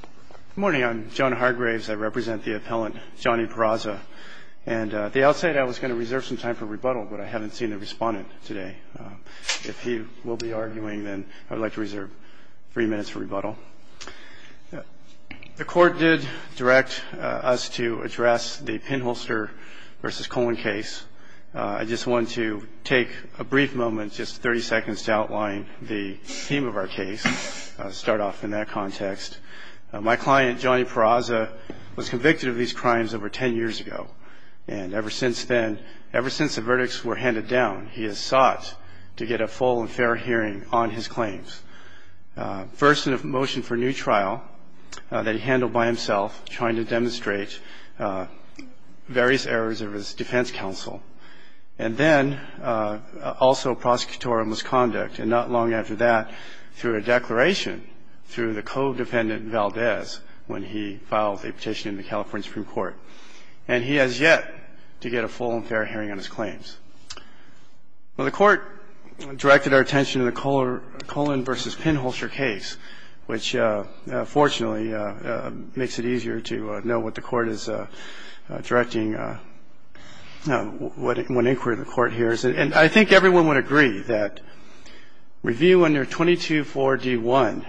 Good morning. I'm John Hargraves. I represent the appellant, Johnny Peraza. And at the outset, I was going to reserve some time for rebuttal, but I haven't seen the respondent today. If he will be arguing, then I would like to reserve three minutes for rebuttal. The court did direct us to address the Pinholster v. Coleman case. I just want to take a brief moment, just 30 seconds, to outline the theme of our case, start off in that context. My client, Johnny Peraza, was convicted of these crimes over 10 years ago. And ever since then, ever since the verdicts were handed down, he has sought to get a full and fair hearing on his claims. First, in a motion for new trial that he handled by himself, trying to demonstrate various errors of his defense counsel. And then also prosecutorial misconduct. And not long after that, through a declaration through the codependent, Valdez, when he filed a petition in the California Supreme Court. And he has yet to get a full and fair hearing on his claims. Well, the court directed our attention to the Coleman v. Pinholster case, which fortunately makes it easier to know what the court is directing, what inquiry the court hears. And I think everyone would agree that review under 22.4.d.1,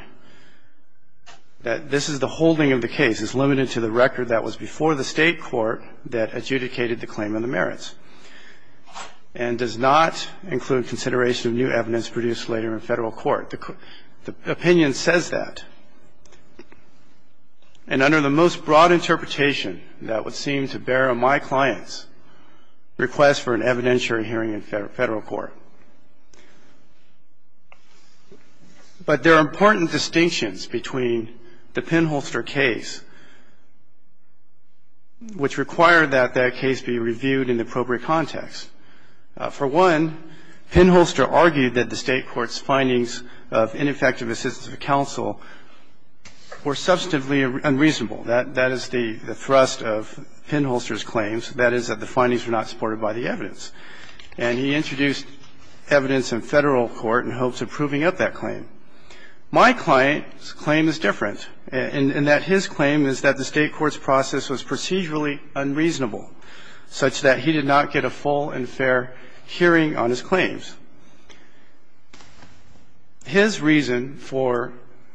that this is the holding of the case, is limited to the record that was before the State court that adjudicated the claim on the merits. And does not include consideration of new evidence produced later in Federal court. The opinion says that. And under the most broad interpretation that would seem to bear on my client's request for an evidentiary hearing in Federal court. But there are important distinctions between the Pinholster case, which require that that case be reviewed in the appropriate context. For one, Pinholster argued that the State court's findings of ineffective assistance of counsel were substantively unreasonable. That is the thrust of Pinholster's claims. That is that the findings were not supported by the evidence. And he introduced evidence in Federal court in hopes of proving up that claim. My client's claim is different, in that his claim is that the State court's process was procedurally unreasonable, such that he did not get a full and fair hearing on his claims. His reason for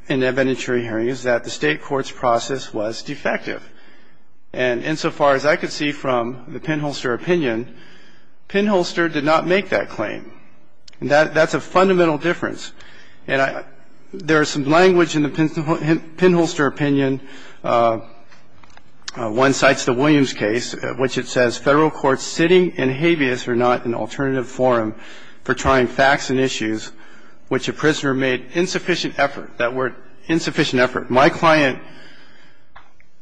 an evidentiary hearing is that the State court's process was defective. And insofar as I could see from the Pinholster opinion, Pinholster did not make that claim. And that's a fundamental difference. And there is some language in the Pinholster opinion. One cites the Williams case, which it says Federal courts sitting in habeas are not an alternative forum for trying facts and issues which a prisoner made insufficient effort, that were insufficient effort. My client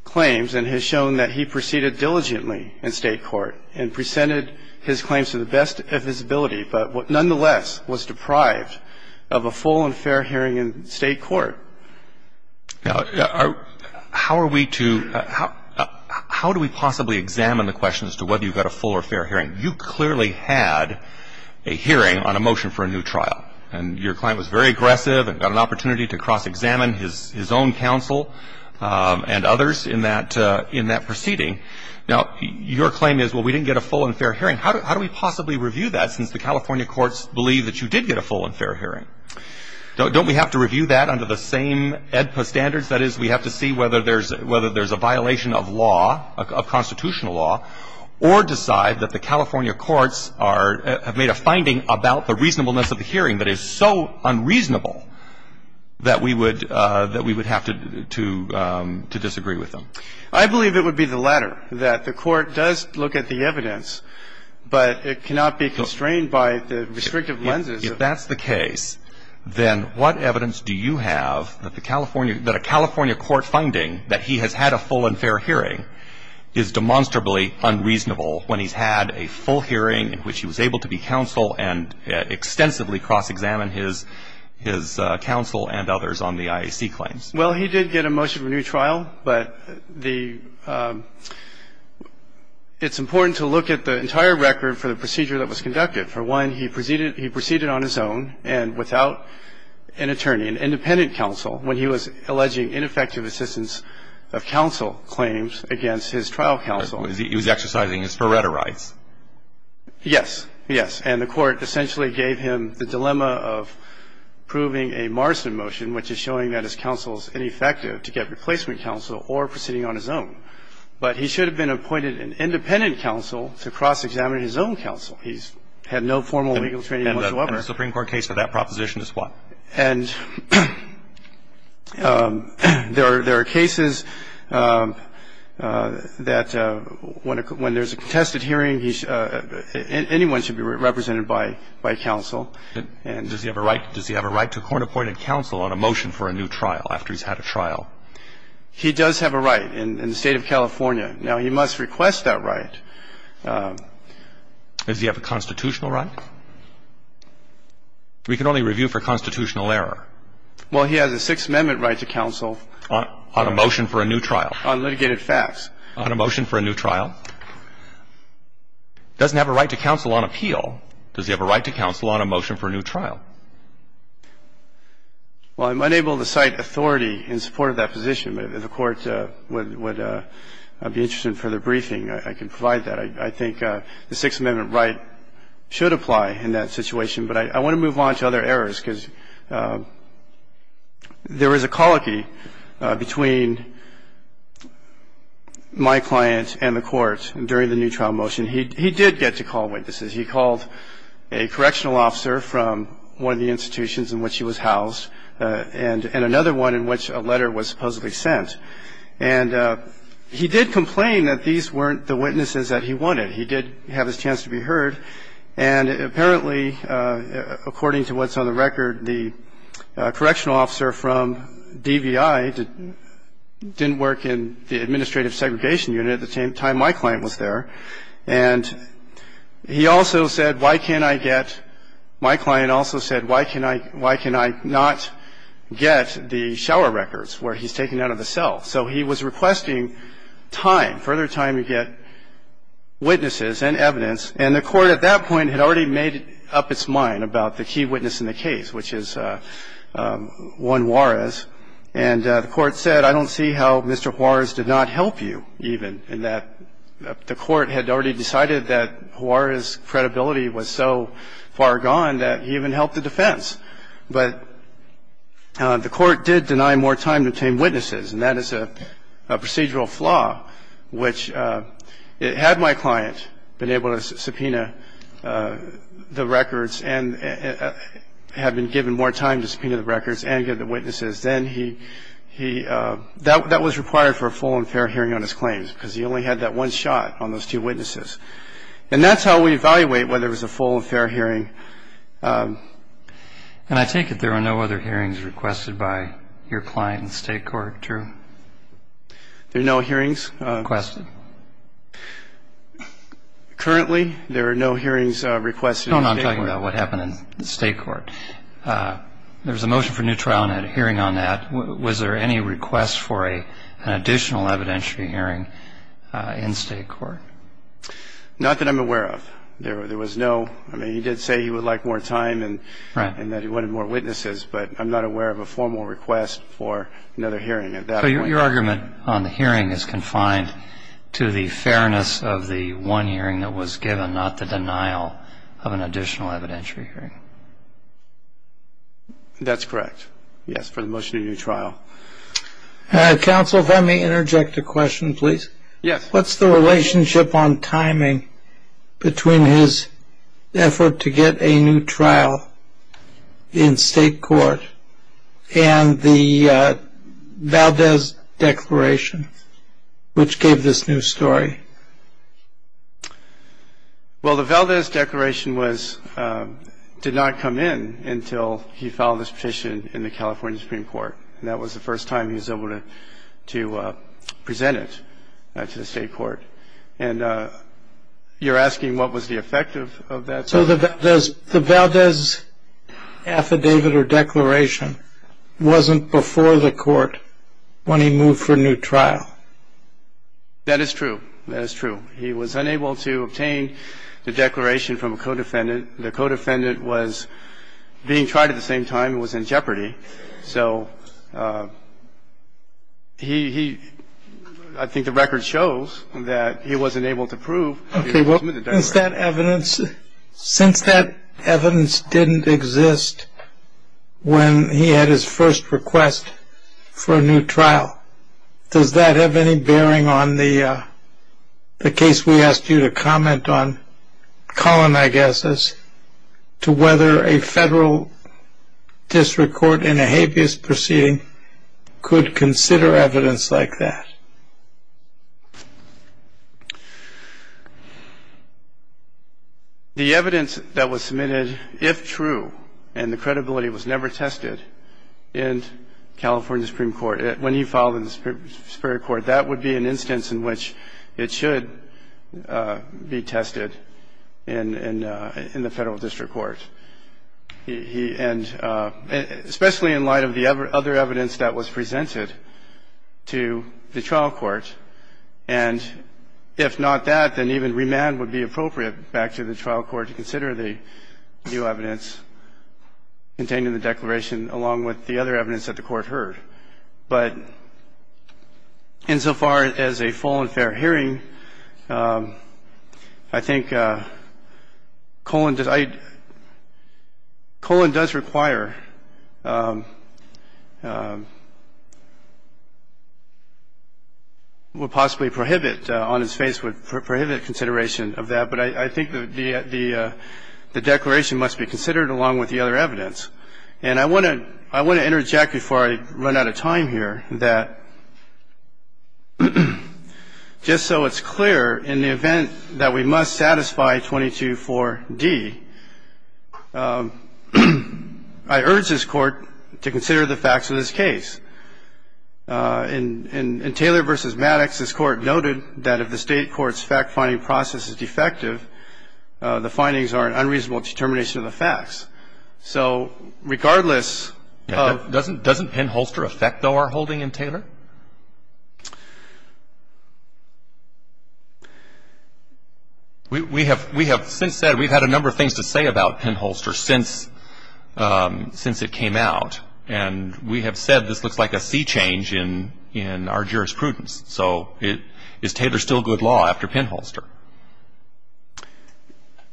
claims and has shown that he proceeded diligently in State court and presented his claims to the best of his ability, but nonetheless was deprived of a full and fair hearing in State court. Now, how are we to — how do we possibly examine the question as to whether you got a full or fair hearing? You clearly had a hearing on a motion for a new trial. And your client was very aggressive and got an opportunity to cross-examine his own counsel and others in that proceeding. Now, your claim is, well, we didn't get a full and fair hearing. How do we possibly review that, since the California courts believe that you did get a full and fair hearing? Don't we have to review that under the same AEDPA standards? That is, we have to see whether there's a violation of law, of constitutional law, or decide that the California courts are — have made a finding about the reasonableness of the hearing that is so unreasonable that we would — that we would have to disagree with them. I believe it would be the latter, that the court does look at the evidence, but it cannot be constrained by the restrictive lenses. If that's the case, then what evidence do you have that the California — that a California court finding that he has had a full and fair hearing is demonstrably unreasonable when he's had a full hearing in which he was able to be counsel and extensively cross-examine his — his counsel and others on the IAC claims? Well, he did get a motion for a new trial, but the — it's important to look at the entire record for the procedure that was conducted. For one, he proceeded — he proceeded on his own and without an attorney, an independent counsel, when he was alleging ineffective assistance of counsel claims against his trial counsel. He was exercising his Faretta rights. Yes. Yes. And the court essentially gave him the dilemma of proving a Morrison motion, which is showing that his counsel is ineffective to get replacement counsel or proceeding on his own. But he should have been appointed an independent counsel to cross-examine his own counsel. He's had no formal legal training whatsoever. And the Supreme Court case for that proposition is what? And there are — there are cases that when there's a contested hearing, he — anyone should be represented by counsel. Does he have a right — does he have a right to court-appointed counsel on a motion for a new trial after he's had a trial? He does have a right in the State of California. Now, he must request that right. Does he have a constitutional right? We can only review for constitutional error. Well, he has a Sixth Amendment right to counsel. On a motion for a new trial. On litigated facts. On a motion for a new trial. Doesn't have a right to counsel on appeal. Does he have a right to counsel on a motion for a new trial? Well, I'm unable to cite authority in support of that position. The Court would be interested in further briefing. I can provide that. I think the Sixth Amendment right should apply in that situation. But I want to move on to other errors, because there is a colloquy between my client and the Court during the new trial motion. He did get to call witnesses. He called a correctional officer from one of the institutions in which he was housed and another one in which a letter was supposedly sent. And he did complain that these weren't the witnesses that he wanted. He did have his chance to be heard. And apparently, according to what's on the record, the correctional officer from DVI didn't work in the administrative segregation unit at the time my client was there. And he also said, why can't I get my client also said, why can I not get the shower records where he's taken out of the cell? So he was requesting time, further time to get witnesses and evidence. And the Court at that point had already made up its mind about the key witness in the case, which is Juan Juarez. And the Court said, I don't see how Mr. Juarez did not help you even, in that the Court had already decided that Juarez's credibility was so far gone that he even helped the defense. But the Court did deny more time to obtain witnesses. And that is a procedural flaw, which had my client been able to subpoena the records and had been given more time to subpoena the records and get the witnesses, then he – that was required for a full and fair hearing on his claims, because he only had that one shot on those two witnesses. And that's how we evaluate whether it was a full and fair hearing. And I take it there are no other hearings requested by your client in the State Court, true? There are no hearings requested. Currently, there are no hearings requested in the State Court. No, no, I'm talking about what happened in the State Court. There was a motion for a new trial and a hearing on that. Was there any request for an additional evidentiary hearing in State Court? Not that I'm aware of. There was no – I mean, he did say he would like more time and that he wanted more witnesses, but I'm not aware of a formal request for another hearing at that point. So your argument on the hearing is confined to the fairness of the one hearing that was given, not the denial of an additional evidentiary hearing. That's correct. Yes, for the motion of a new trial. Counsel, if I may interject a question, please. Yes. What's the relationship on timing between his effort to get a new trial in State Court and the Valdez Declaration, which gave this new story? Well, the Valdez Declaration did not come in until he filed this petition in the California Supreme Court, and that was the first time he was able to present it to the State Court. And you're asking what was the effect of that? So the Valdez Affidavit or Declaration wasn't before the court when he moved for a new trial. That is true. That is true. He was unable to obtain the Declaration from a co-defendant. The co-defendant was being tried at the same time and was in jeopardy. So he – I think the record shows that he wasn't able to prove. Okay. Well, since that evidence didn't exist when he had his first request for a new trial, does that have any bearing on the case we asked you to comment on, Colin, I guess, as to whether a federal district court in a habeas proceeding could consider evidence like that? The evidence that was submitted, if true, and the credibility was never tested in California Supreme Court, when he filed in the Superior Court, that would be an instance in which it should be tested in the federal district court. And especially in light of the other evidence that was presented to the trial court, and if not that, then even remand would be appropriate back to the trial court But insofar as a full and fair hearing, I think Colin does – I – Colin does require – would possibly prohibit – on his face would prohibit consideration of that, but I think the Declaration must be considered along with the other evidence. And I want to interject before I run out of time here that just so it's clear, in the event that we must satisfy 22-4-D, I urge this Court to consider the facts of this case. In Taylor v. Maddox, this Court noted that if the State court's fact-finding process is defective, the findings are an unreasonable determination of the facts. So regardless of – Doesn't Penn-Holster affect, though, our holding in Taylor? We have since said we've had a number of things to say about Penn-Holster since it came out, and we have said this looks like a sea change in our jurisprudence. So is Taylor still good law after Penn-Holster?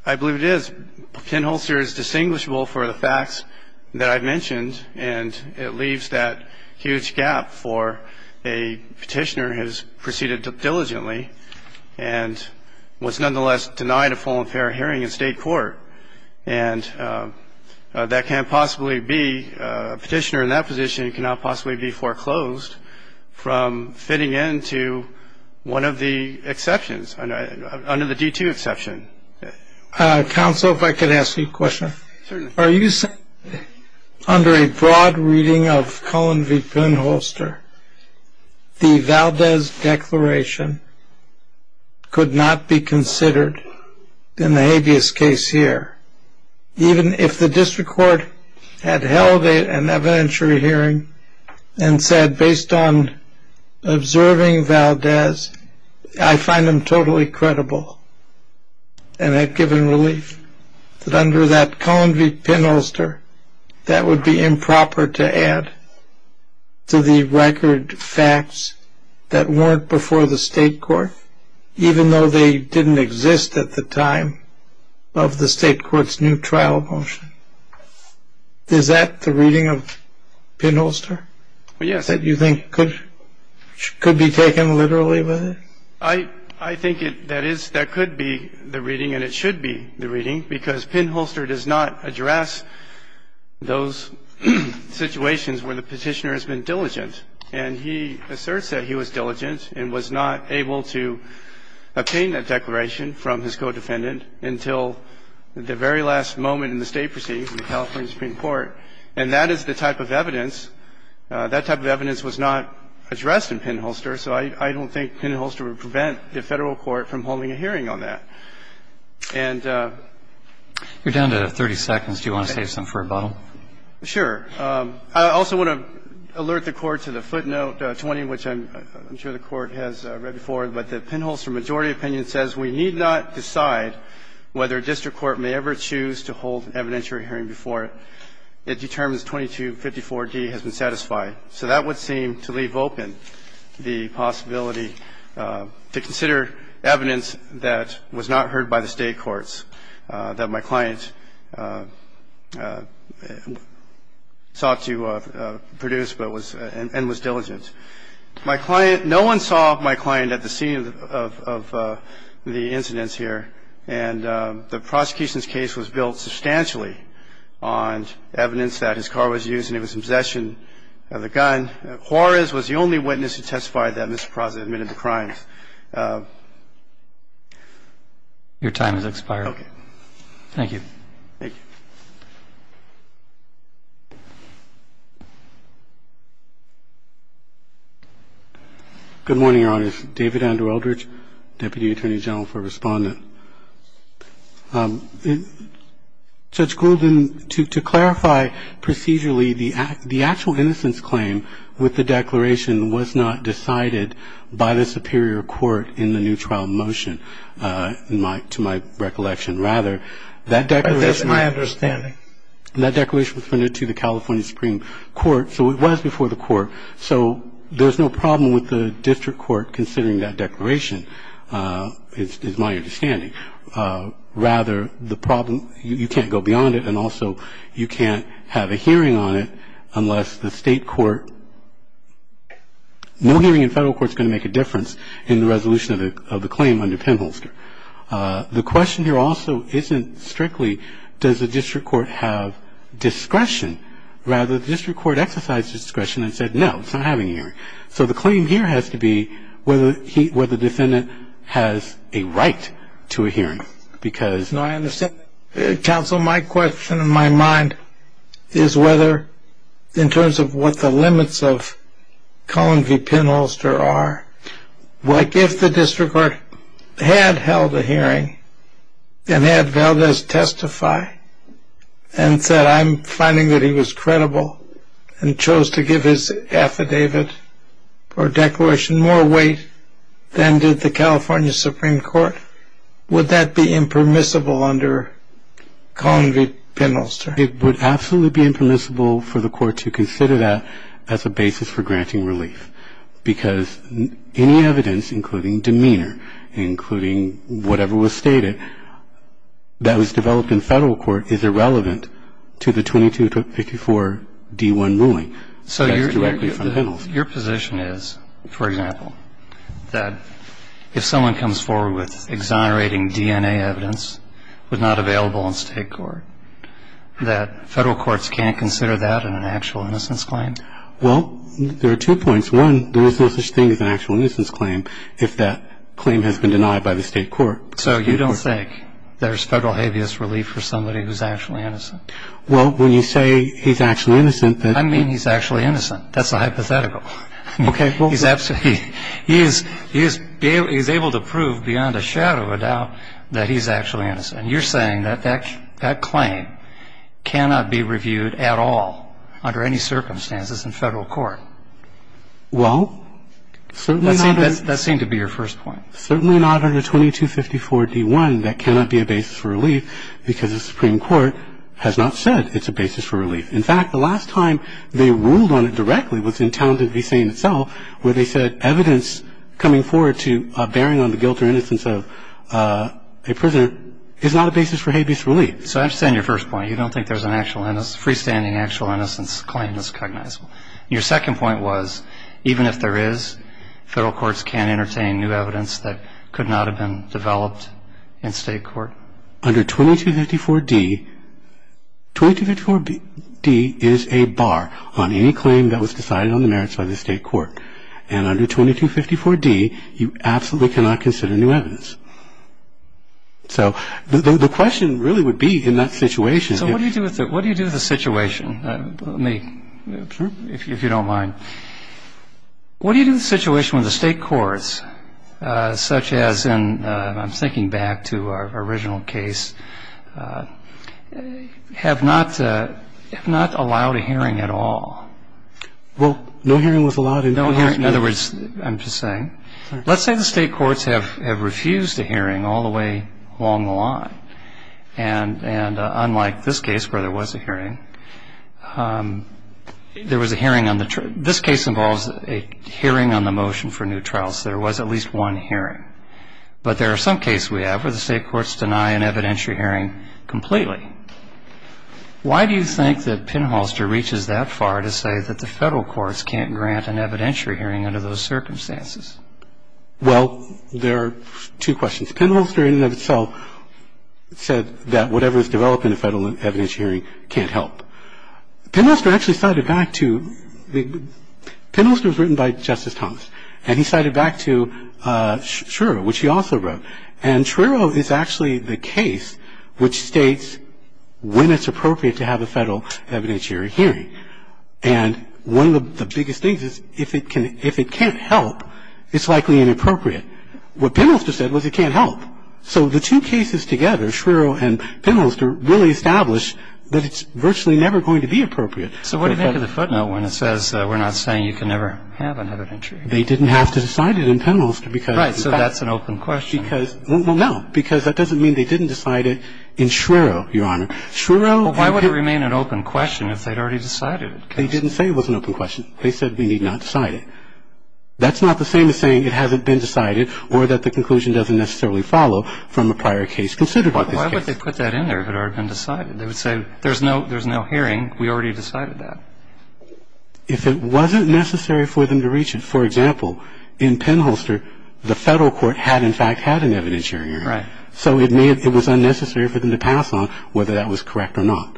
I believe it is. Penn-Holster is distinguishable for the facts that I've mentioned, and it leaves that huge gap for a Petitioner who has proceeded diligently and was nonetheless denied a full and fair hearing in State court. And that can't possibly be – a Petitioner in that position cannot possibly be foreclosed from fitting into one of the exceptions, under the D-2 exception. Counsel, if I could ask you a question. Certainly. Are you saying under a broad reading of Cullen v. Penn-Holster, the Valdez Declaration could not be considered in the habeas case here, even if the District Court had held an evidentiary hearing and said based on observing Valdez, I find him totally credible, and had given relief that under that Cullen v. Penn-Holster, that would be improper to add to the record facts that weren't before the State court, even though they didn't exist at the time of the State court's new trial motion? Is that the reading of Penn-Holster? Yes. That you think could be taken literally with it? I think that could be the reading, and it should be the reading, because Penn-Holster does not address those situations where the Petitioner has been diligent, and he asserts that he was diligent and was not able to obtain that declaration from his co-defendant until the very last moment in the State proceedings in the California Supreme Court. And that is the type of evidence. That type of evidence was not addressed in Penn-Holster, so I don't think Penn-Holster would prevent the Federal court from holding a hearing on that. And the ---- You're down to 30 seconds. Do you want to save some for rebuttal? Sure. I also want to alert the Court to the footnote 20, which I'm sure the Court has read before, but the Penn-Holster majority opinion says, We need not decide whether a district court may ever choose to hold an evidentiary hearing before it determines 2254d has been satisfied. So that would seem to leave open the possibility to consider evidence that was not heard by the State courts that my client sought to produce and was diligent. My client ---- No one saw my client at the scene of the incidents here, and the prosecution's case was built substantially on evidence that his car was used and it was in possession of the gun. and the prosecution's case was built on evidence that he was a suspect in a murder, and the prosecution's case was built on evidence that he was a suspect in a murder. And my client, Juarez, was the only witness to testify that Mr. Prozat admitted the crimes. Your time has expired. Okay. Thank you. Thank you. Thank you. Good morning, Your Honors. David Andrew Eldridge, Deputy Attorney General for Respondent. Judge Grulden, to clarify procedurally, the actual innocence claim with the declaration was not decided by the Superior Court in the new trial motion, to my recollection, rather. That declaration – That's my understanding. And that declaration was submitted to the California Supreme Court, so it was before the court. So there's no problem with the district court considering that declaration, is my understanding. Rather, the problem – you can't go beyond it, and also you can't have a hearing on it unless the state court – no hearing in federal court is going to make a difference in the resolution of the claim under Penholster. The question here also isn't strictly, does the district court have discretion? Rather, the district court exercised discretion and said, no, it's not having a hearing. So the claim here has to be whether the defendant has a right to a hearing, because – No, I understand. Counsel, my question in my mind is whether, in terms of what the limits of Cullen v. Penholster are, like if the district court had held a hearing and had Valdez testify and said, I'm finding that he was credible and chose to give his affidavit or declaration more weight than did the California Supreme Court, would that be impermissible under Cullen v. Penholster? It would absolutely be impermissible for the court to consider that as a basis for granting relief, because any evidence, including demeanor, including whatever was stated, that was developed in federal court is irrelevant to the 2254-D1 ruling. So your position is, for example, that if someone comes forward with exonerating DNA evidence but not available in state court, that federal courts can't consider that an actual innocence claim? Well, there are two points. One, there is no such thing as an actual innocence claim if that claim has been denied by the state court. So you don't think there's federal habeas relief for somebody who's actually innocent? Well, when you say he's actually innocent, then – I mean he's actually innocent. That's a hypothetical. Okay. He's absolutely – he's able to prove beyond a shadow of a doubt that he's actually innocent. And you're saying that that claim cannot be reviewed at all under any circumstances in federal court? Well, certainly not – That seemed to be your first point. Certainly not under 2254-D1. That cannot be a basis for relief, because the Supreme Court has not said it's a basis for relief. In fact, the last time they ruled on it directly was in Townsend v. St. itself, where they said evidence coming forward to bearing on the guilt or innocence of a prisoner is not a basis for habeas relief. So I understand your first point. You don't think there's a freestanding actual innocence claim that's cognizable. Your second point was even if there is, federal courts can't entertain new evidence that could not have been developed in state court? Under 2254-D, 2254-D is a bar on any claim that was decided on the merits by the state court. And under 2254-D, you absolutely cannot consider new evidence. So the question really would be in that situation – So what do you do with the situation? Let me – if you don't mind. What do you do with the situation when the state courts, such as in – I'm thinking back to our original case – have not allowed a hearing at all? Well, no hearing was allowed in 2254-D. In other words, I'm just saying, let's say the state courts have refused a hearing all the way along the line. And unlike this case where there was a hearing, there was a hearing on the – this case involves a hearing on the motion for new trials. There was at least one hearing. But there are some cases we have where the state courts deny an evidentiary hearing completely. Why do you think that Pinholster reaches that far to say that the federal courts can't grant an evidentiary hearing under those circumstances? Well, there are two questions. The second question is, why do you think that the federal courts can't grant an evidentiary hearing under those circumstances? Well, the first question is because Pinholster, in and of itself, said that whatever is developed in a federal evidentiary hearing can't help. Pinholster actually cited back to – Pinholster was written by Justice Thomas. And he cited back to Schrierow, which he also wrote. And Schrierow is actually the case which states when it's appropriate to have a federal evidentiary hearing. And one of the biggest things is if it can't help, it's likely inappropriate. What Pinholster said was it can't help. So the two cases together, Schrierow and Pinholster, really establish that it's virtually never going to be appropriate. So what do you make of the footnote when it says we're not saying you can never have an evidentiary hearing? They didn't have to decide it in Pinholster because – Right. So that's an open question. Because – well, no. Because that doesn't mean they didn't decide it in Schrierow, Your Honor. Schrierow – Well, why would it remain an open question if they'd already decided it? They didn't say it was an open question. They said we need not decide it. That's not the same as saying it hasn't been decided or that the conclusion doesn't necessarily follow from a prior case considered. Why would they put that in there if it had already been decided? They would say there's no – there's no hearing. We already decided that. If it wasn't necessary for them to reach it – for example, in Pinholster, the Federal court had, in fact, had an evidentiary hearing. Right. So it made – it was unnecessary for them to pass on whether that was correct or not.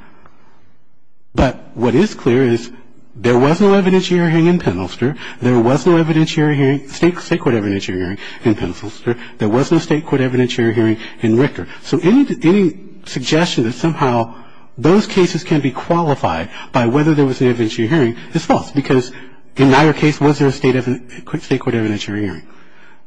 But what is clear is there was no evidentiary hearing in Pinholster. There was no evidentiary hearing – state court evidentiary hearing in Pinholster. There was no state court evidentiary hearing in Richter. So any suggestion that somehow those cases can be qualified by whether there was an evidentiary hearing is false because in neither case was there a state court evidentiary hearing.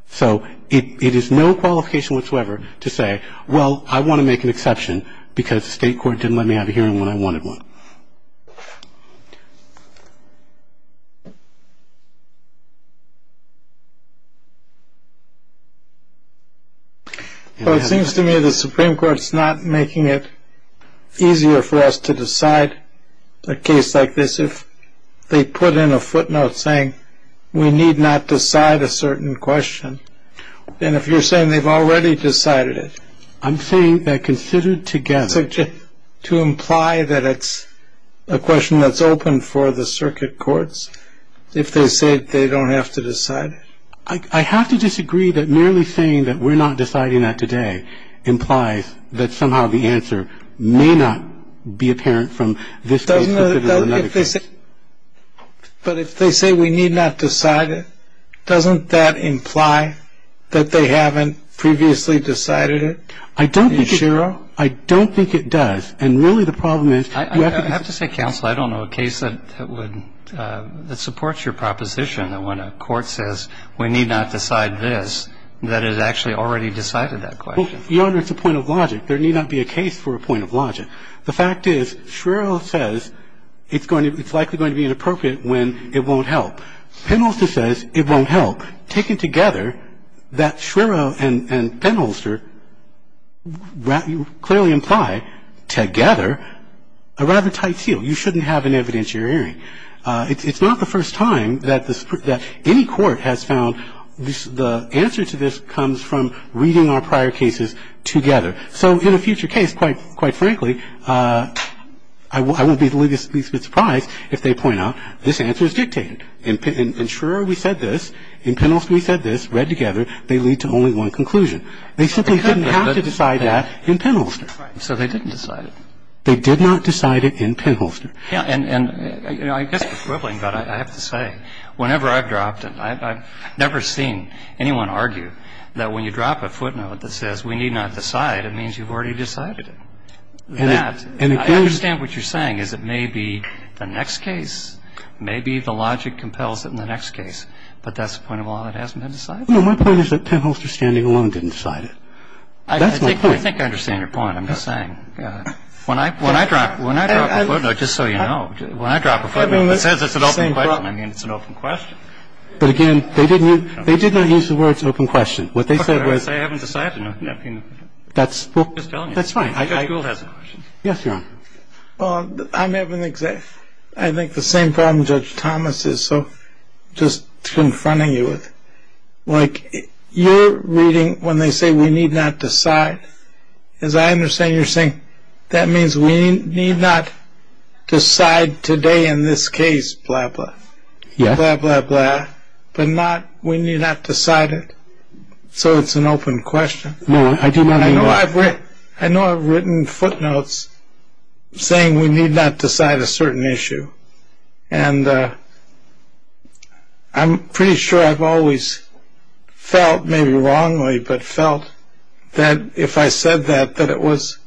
So it is no qualification whatsoever to say, well, I want to make an exception because the state court didn't let me have a hearing when I wanted one. Well, it seems to me the Supreme Court's not making it easier for us to decide a case like this if they put in a footnote saying we need not decide a certain question than if you're saying they've already decided it. I'm saying that considered together. To imply that it's a question that's open for the circuit courts if they say they don't have to decide it? I have to disagree that merely saying that we're not deciding that today implies that somehow the answer may not be apparent from this case. But if they say we need not decide it, doesn't that imply that they haven't previously decided it? I don't think it does. And really the problem is you have to say counsel, I don't know a case that would that supports your proposition that when a court says we need not decide this, that it has actually already decided that question. Your Honor, it's a point of logic. There need not be a case for a point of logic. The fact is, Shrero says it's likely going to be inappropriate when it won't help. Penholster says it won't help. Taken together, that Shrero and Penholster clearly imply together a rather tight seal. You shouldn't have an evidence you're airing. It's not the first time that any court has found the answer to this comes from reading our prior cases together. So in a future case, quite frankly, I won't be the least bit surprised if they point out this answer is dictated. In Shrero, we said this. In Penholster, we said this. Read together, they lead to only one conclusion. They simply didn't have to decide that in Penholster. Right. So they didn't decide it. They did not decide it in Penholster. Yeah. And, you know, I guess the equivalent, but I have to say, whenever I've dropped it, I've never seen anyone argue that when you drop a footnote that says we need not decide, it means you've already decided it. And I understand what you're saying is it may be the next case. Maybe the logic compels it in the next case. But that's the point of all that hasn't been decided? No, my point is that Penholster standing alone didn't decide it. That's my point. I think I understand your point. I'm just saying. When I drop a footnote, just so you know, when I drop a footnote that says it's an open question, I mean, it's an open question. But, again, they did not use the words open question. What they said was they haven't decided. That's fine. Judge Gould has a question. Yes, Your Honor. Well, I'm having the same problem Judge Thomas is. So just confronting you with, like, you're reading when they say we need not decide. As I understand, you're saying that means we need not decide today in this case, blah, blah. Yes. Blah, blah, blah. But not we need not decide it. So it's an open question. No, I do not agree. I know I've written footnotes saying we need not decide a certain issue. And I'm pretty sure I've always felt, maybe wrongly, but felt that if I said that that it was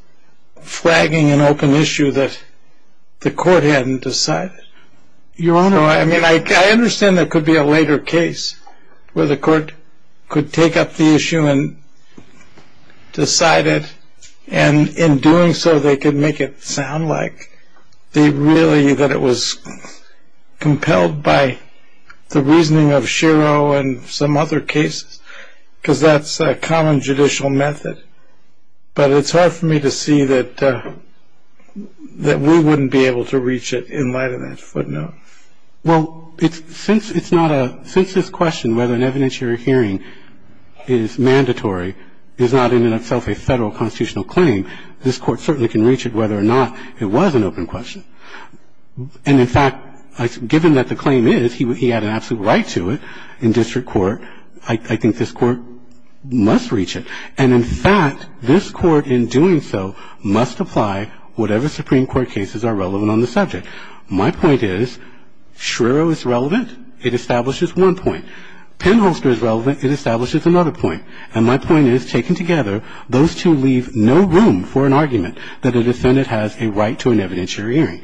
flagging an open issue that the court hadn't decided. Your Honor. I mean, I understand there could be a later case where the court could take up the issue and decide it and in doing so they could make it sound like they really, that it was compelled by the reasoning of Shiro and some other cases, because that's a common judicial method. But it's hard for me to see that we wouldn't be able to reach it in light of that footnote. Well, since it's not a, since this question whether an evidentiary hearing is mandatory is not in and of itself a federal constitutional claim, this Court certainly can reach it whether or not it was an open question. And, in fact, given that the claim is, he had an absolute right to it in district court, I think this Court must reach it. And, in fact, this Court in doing so must apply whatever Supreme Court cases are relevant on the subject. My point is Shiro is relevant. It establishes one point. Penholster is relevant. It establishes another point. And my point is, taken together, those two leave no room for an argument that a defendant has a right to an evidentiary hearing.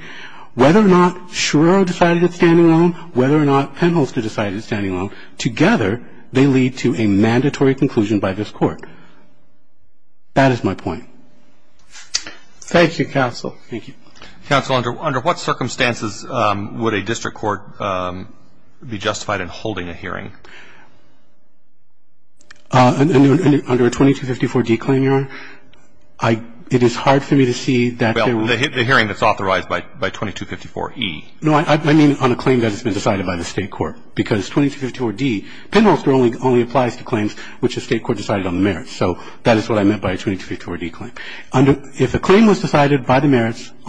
Whether or not Shiro decided it standing alone, whether or not Penholster decided it standing alone, together they lead to a mandatory conclusion by this Court. That is my point. Thank you, counsel. Thank you. Counsel, under what circumstances would a district court be justified in holding a hearing? Under a 2254d claim, Your Honor, it is hard for me to see that there would be a hearing that's authorized by 2254e. No, I mean on a claim that has been decided by the State court. Because 2254d, Penholster only applies to claims which the State court decided on the merits. So that is what I meant by a 2254d claim. If a claim was decided on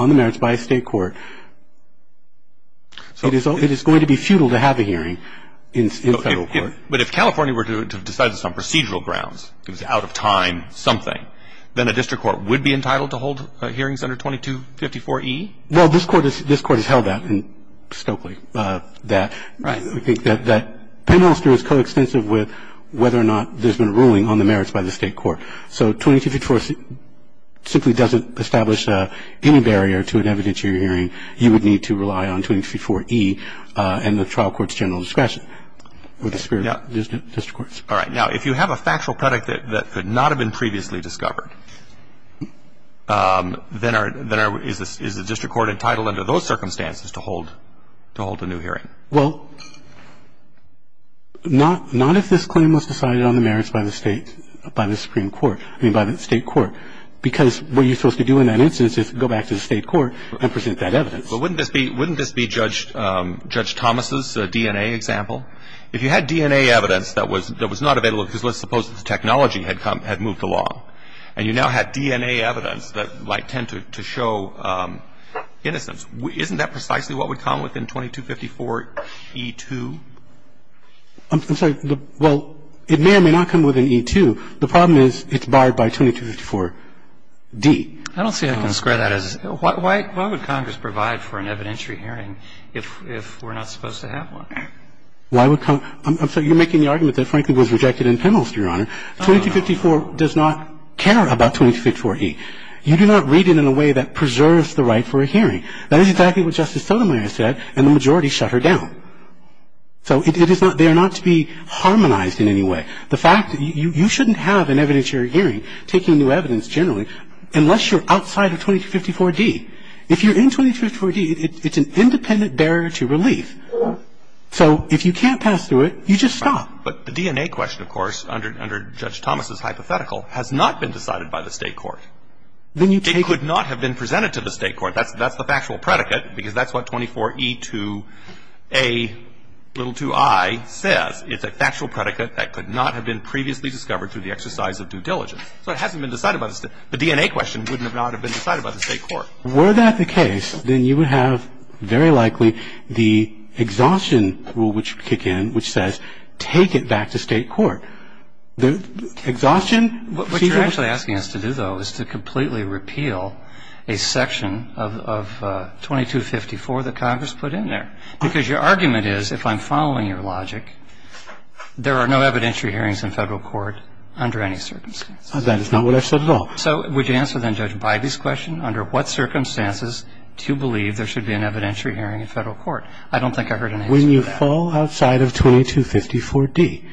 the merits by a State court, it is going to be futile to have a hearing in Federal court. But if California were to decide this on procedural grounds, it was out of time, something, then a district court would be entitled to hold hearings under 2254e? Well, this Court has held that in Stokely. Right. That Penholster is coextensive with whether or not there's been a ruling on the merits by the State court. So 2254 simply doesn't establish any barrier to an evidentiary hearing. You would need to rely on 2254e and the trial court's general discretion. With the spirit of district courts. All right. Now, if you have a factual product that could not have been previously discovered, then is the district court entitled under those circumstances to hold a new hearing? Well, not if this claim was decided on the merits by the State court. Because what you're supposed to do in that instance is go back to the State court and present that evidence. But wouldn't this be Judge Thomas's DNA example? If you had DNA evidence that was not available because let's suppose the technology had moved along and you now had DNA evidence that might tend to show innocence, isn't that precisely what would come within 2254e-2? I'm sorry. Well, it may or may not come within e-2. The problem is it's barred by 2254d. I don't see how you can square that. Why would Congress provide for an evidentiary hearing if we're not supposed to have one? Why would Congress? I'm sorry. You're making the argument that, frankly, was rejected in Penholster, Your Honor. 2254 does not care about 2254e. You do not read it in a way that preserves the right for a hearing. That is exactly what Justice Sotomayor said, and the majority shut her down. So they are not to be harmonized in any way. The fact that you shouldn't have an evidentiary hearing taking new evidence generally unless you're outside of 2254d. If you're in 2254d, it's an independent barrier to relief. So if you can't pass through it, you just stop. But the DNA question, of course, under Judge Thomas's hypothetical, has not been decided by the State court. It could not have been presented to the State court. That's the factual predicate, because that's what 24e2a2i says. It's a factual predicate that could not have been previously discovered through the exercise of due diligence. So it hasn't been decided by the State. The DNA question would not have been decided by the State court. Were that the case, then you would have, very likely, the exhaustion rule which would kick in, which says take it back to State court. Exhaustion. But what you're actually asking us to do, though, is to completely repeal a section of 2254 that Congress put in there, because your argument is, if I'm following your logic, there are no evidentiary hearings in Federal court under any circumstances. That is not what I said at all. So would you answer, then, Judge Bybee's question, under what circumstances do you believe there should be an evidentiary hearing in Federal court? I don't think I heard an answer to that. When you fall outside of 2254D.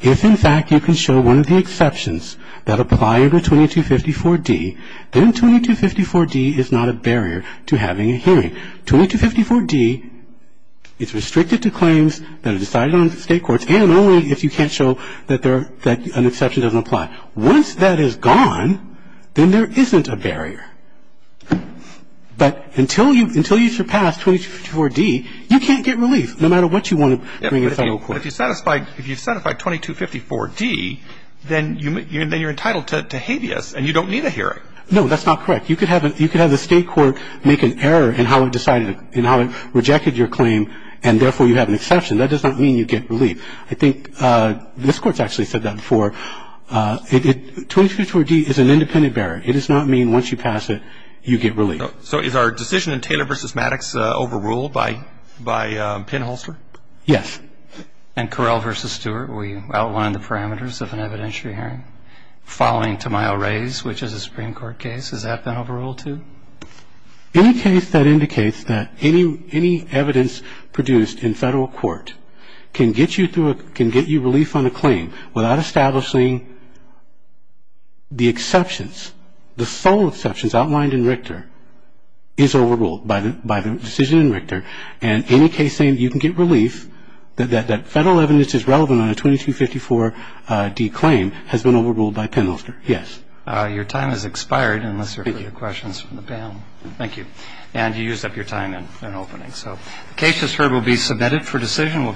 If, in fact, you can show one of the exceptions that apply under 2254D, then 2254D is not a barrier to having a hearing. 2254D is restricted to claims that are decided on State courts and only if you can't show that an exception doesn't apply. Once that is gone, then there isn't a barrier. But until you surpass 2254D, you can't get relief. No matter what you want to bring to Federal court. But if you satisfy 2254D, then you're entitled to habeas and you don't need a hearing. No, that's not correct. You could have the State court make an error in how it rejected your claim and, therefore, you have an exception. That does not mean you get relief. I think this Court's actually said that before. 2254D is an independent barrier. It does not mean once you pass it, you get relief. So is our decision in Taylor v. Maddox overruled by Pinholster? Yes. And Correll v. Stewart, will you outline the parameters of an evidentiary hearing following Tamayo-Reyes, which is a Supreme Court case? Has that been overruled, too? Any case that indicates that any evidence produced in Federal court can get you relief on a claim without establishing the exceptions, the sole exceptions outlined in Richter, is overruled by the decision in Richter. And any case saying you can get relief, that Federal evidence is relevant on a 2254D claim, has been overruled by Pinholster. Yes. Your time has expired, unless there are further questions from the panel. Thank you. And you used up your time in opening. So the case, as heard, will be submitted for decision.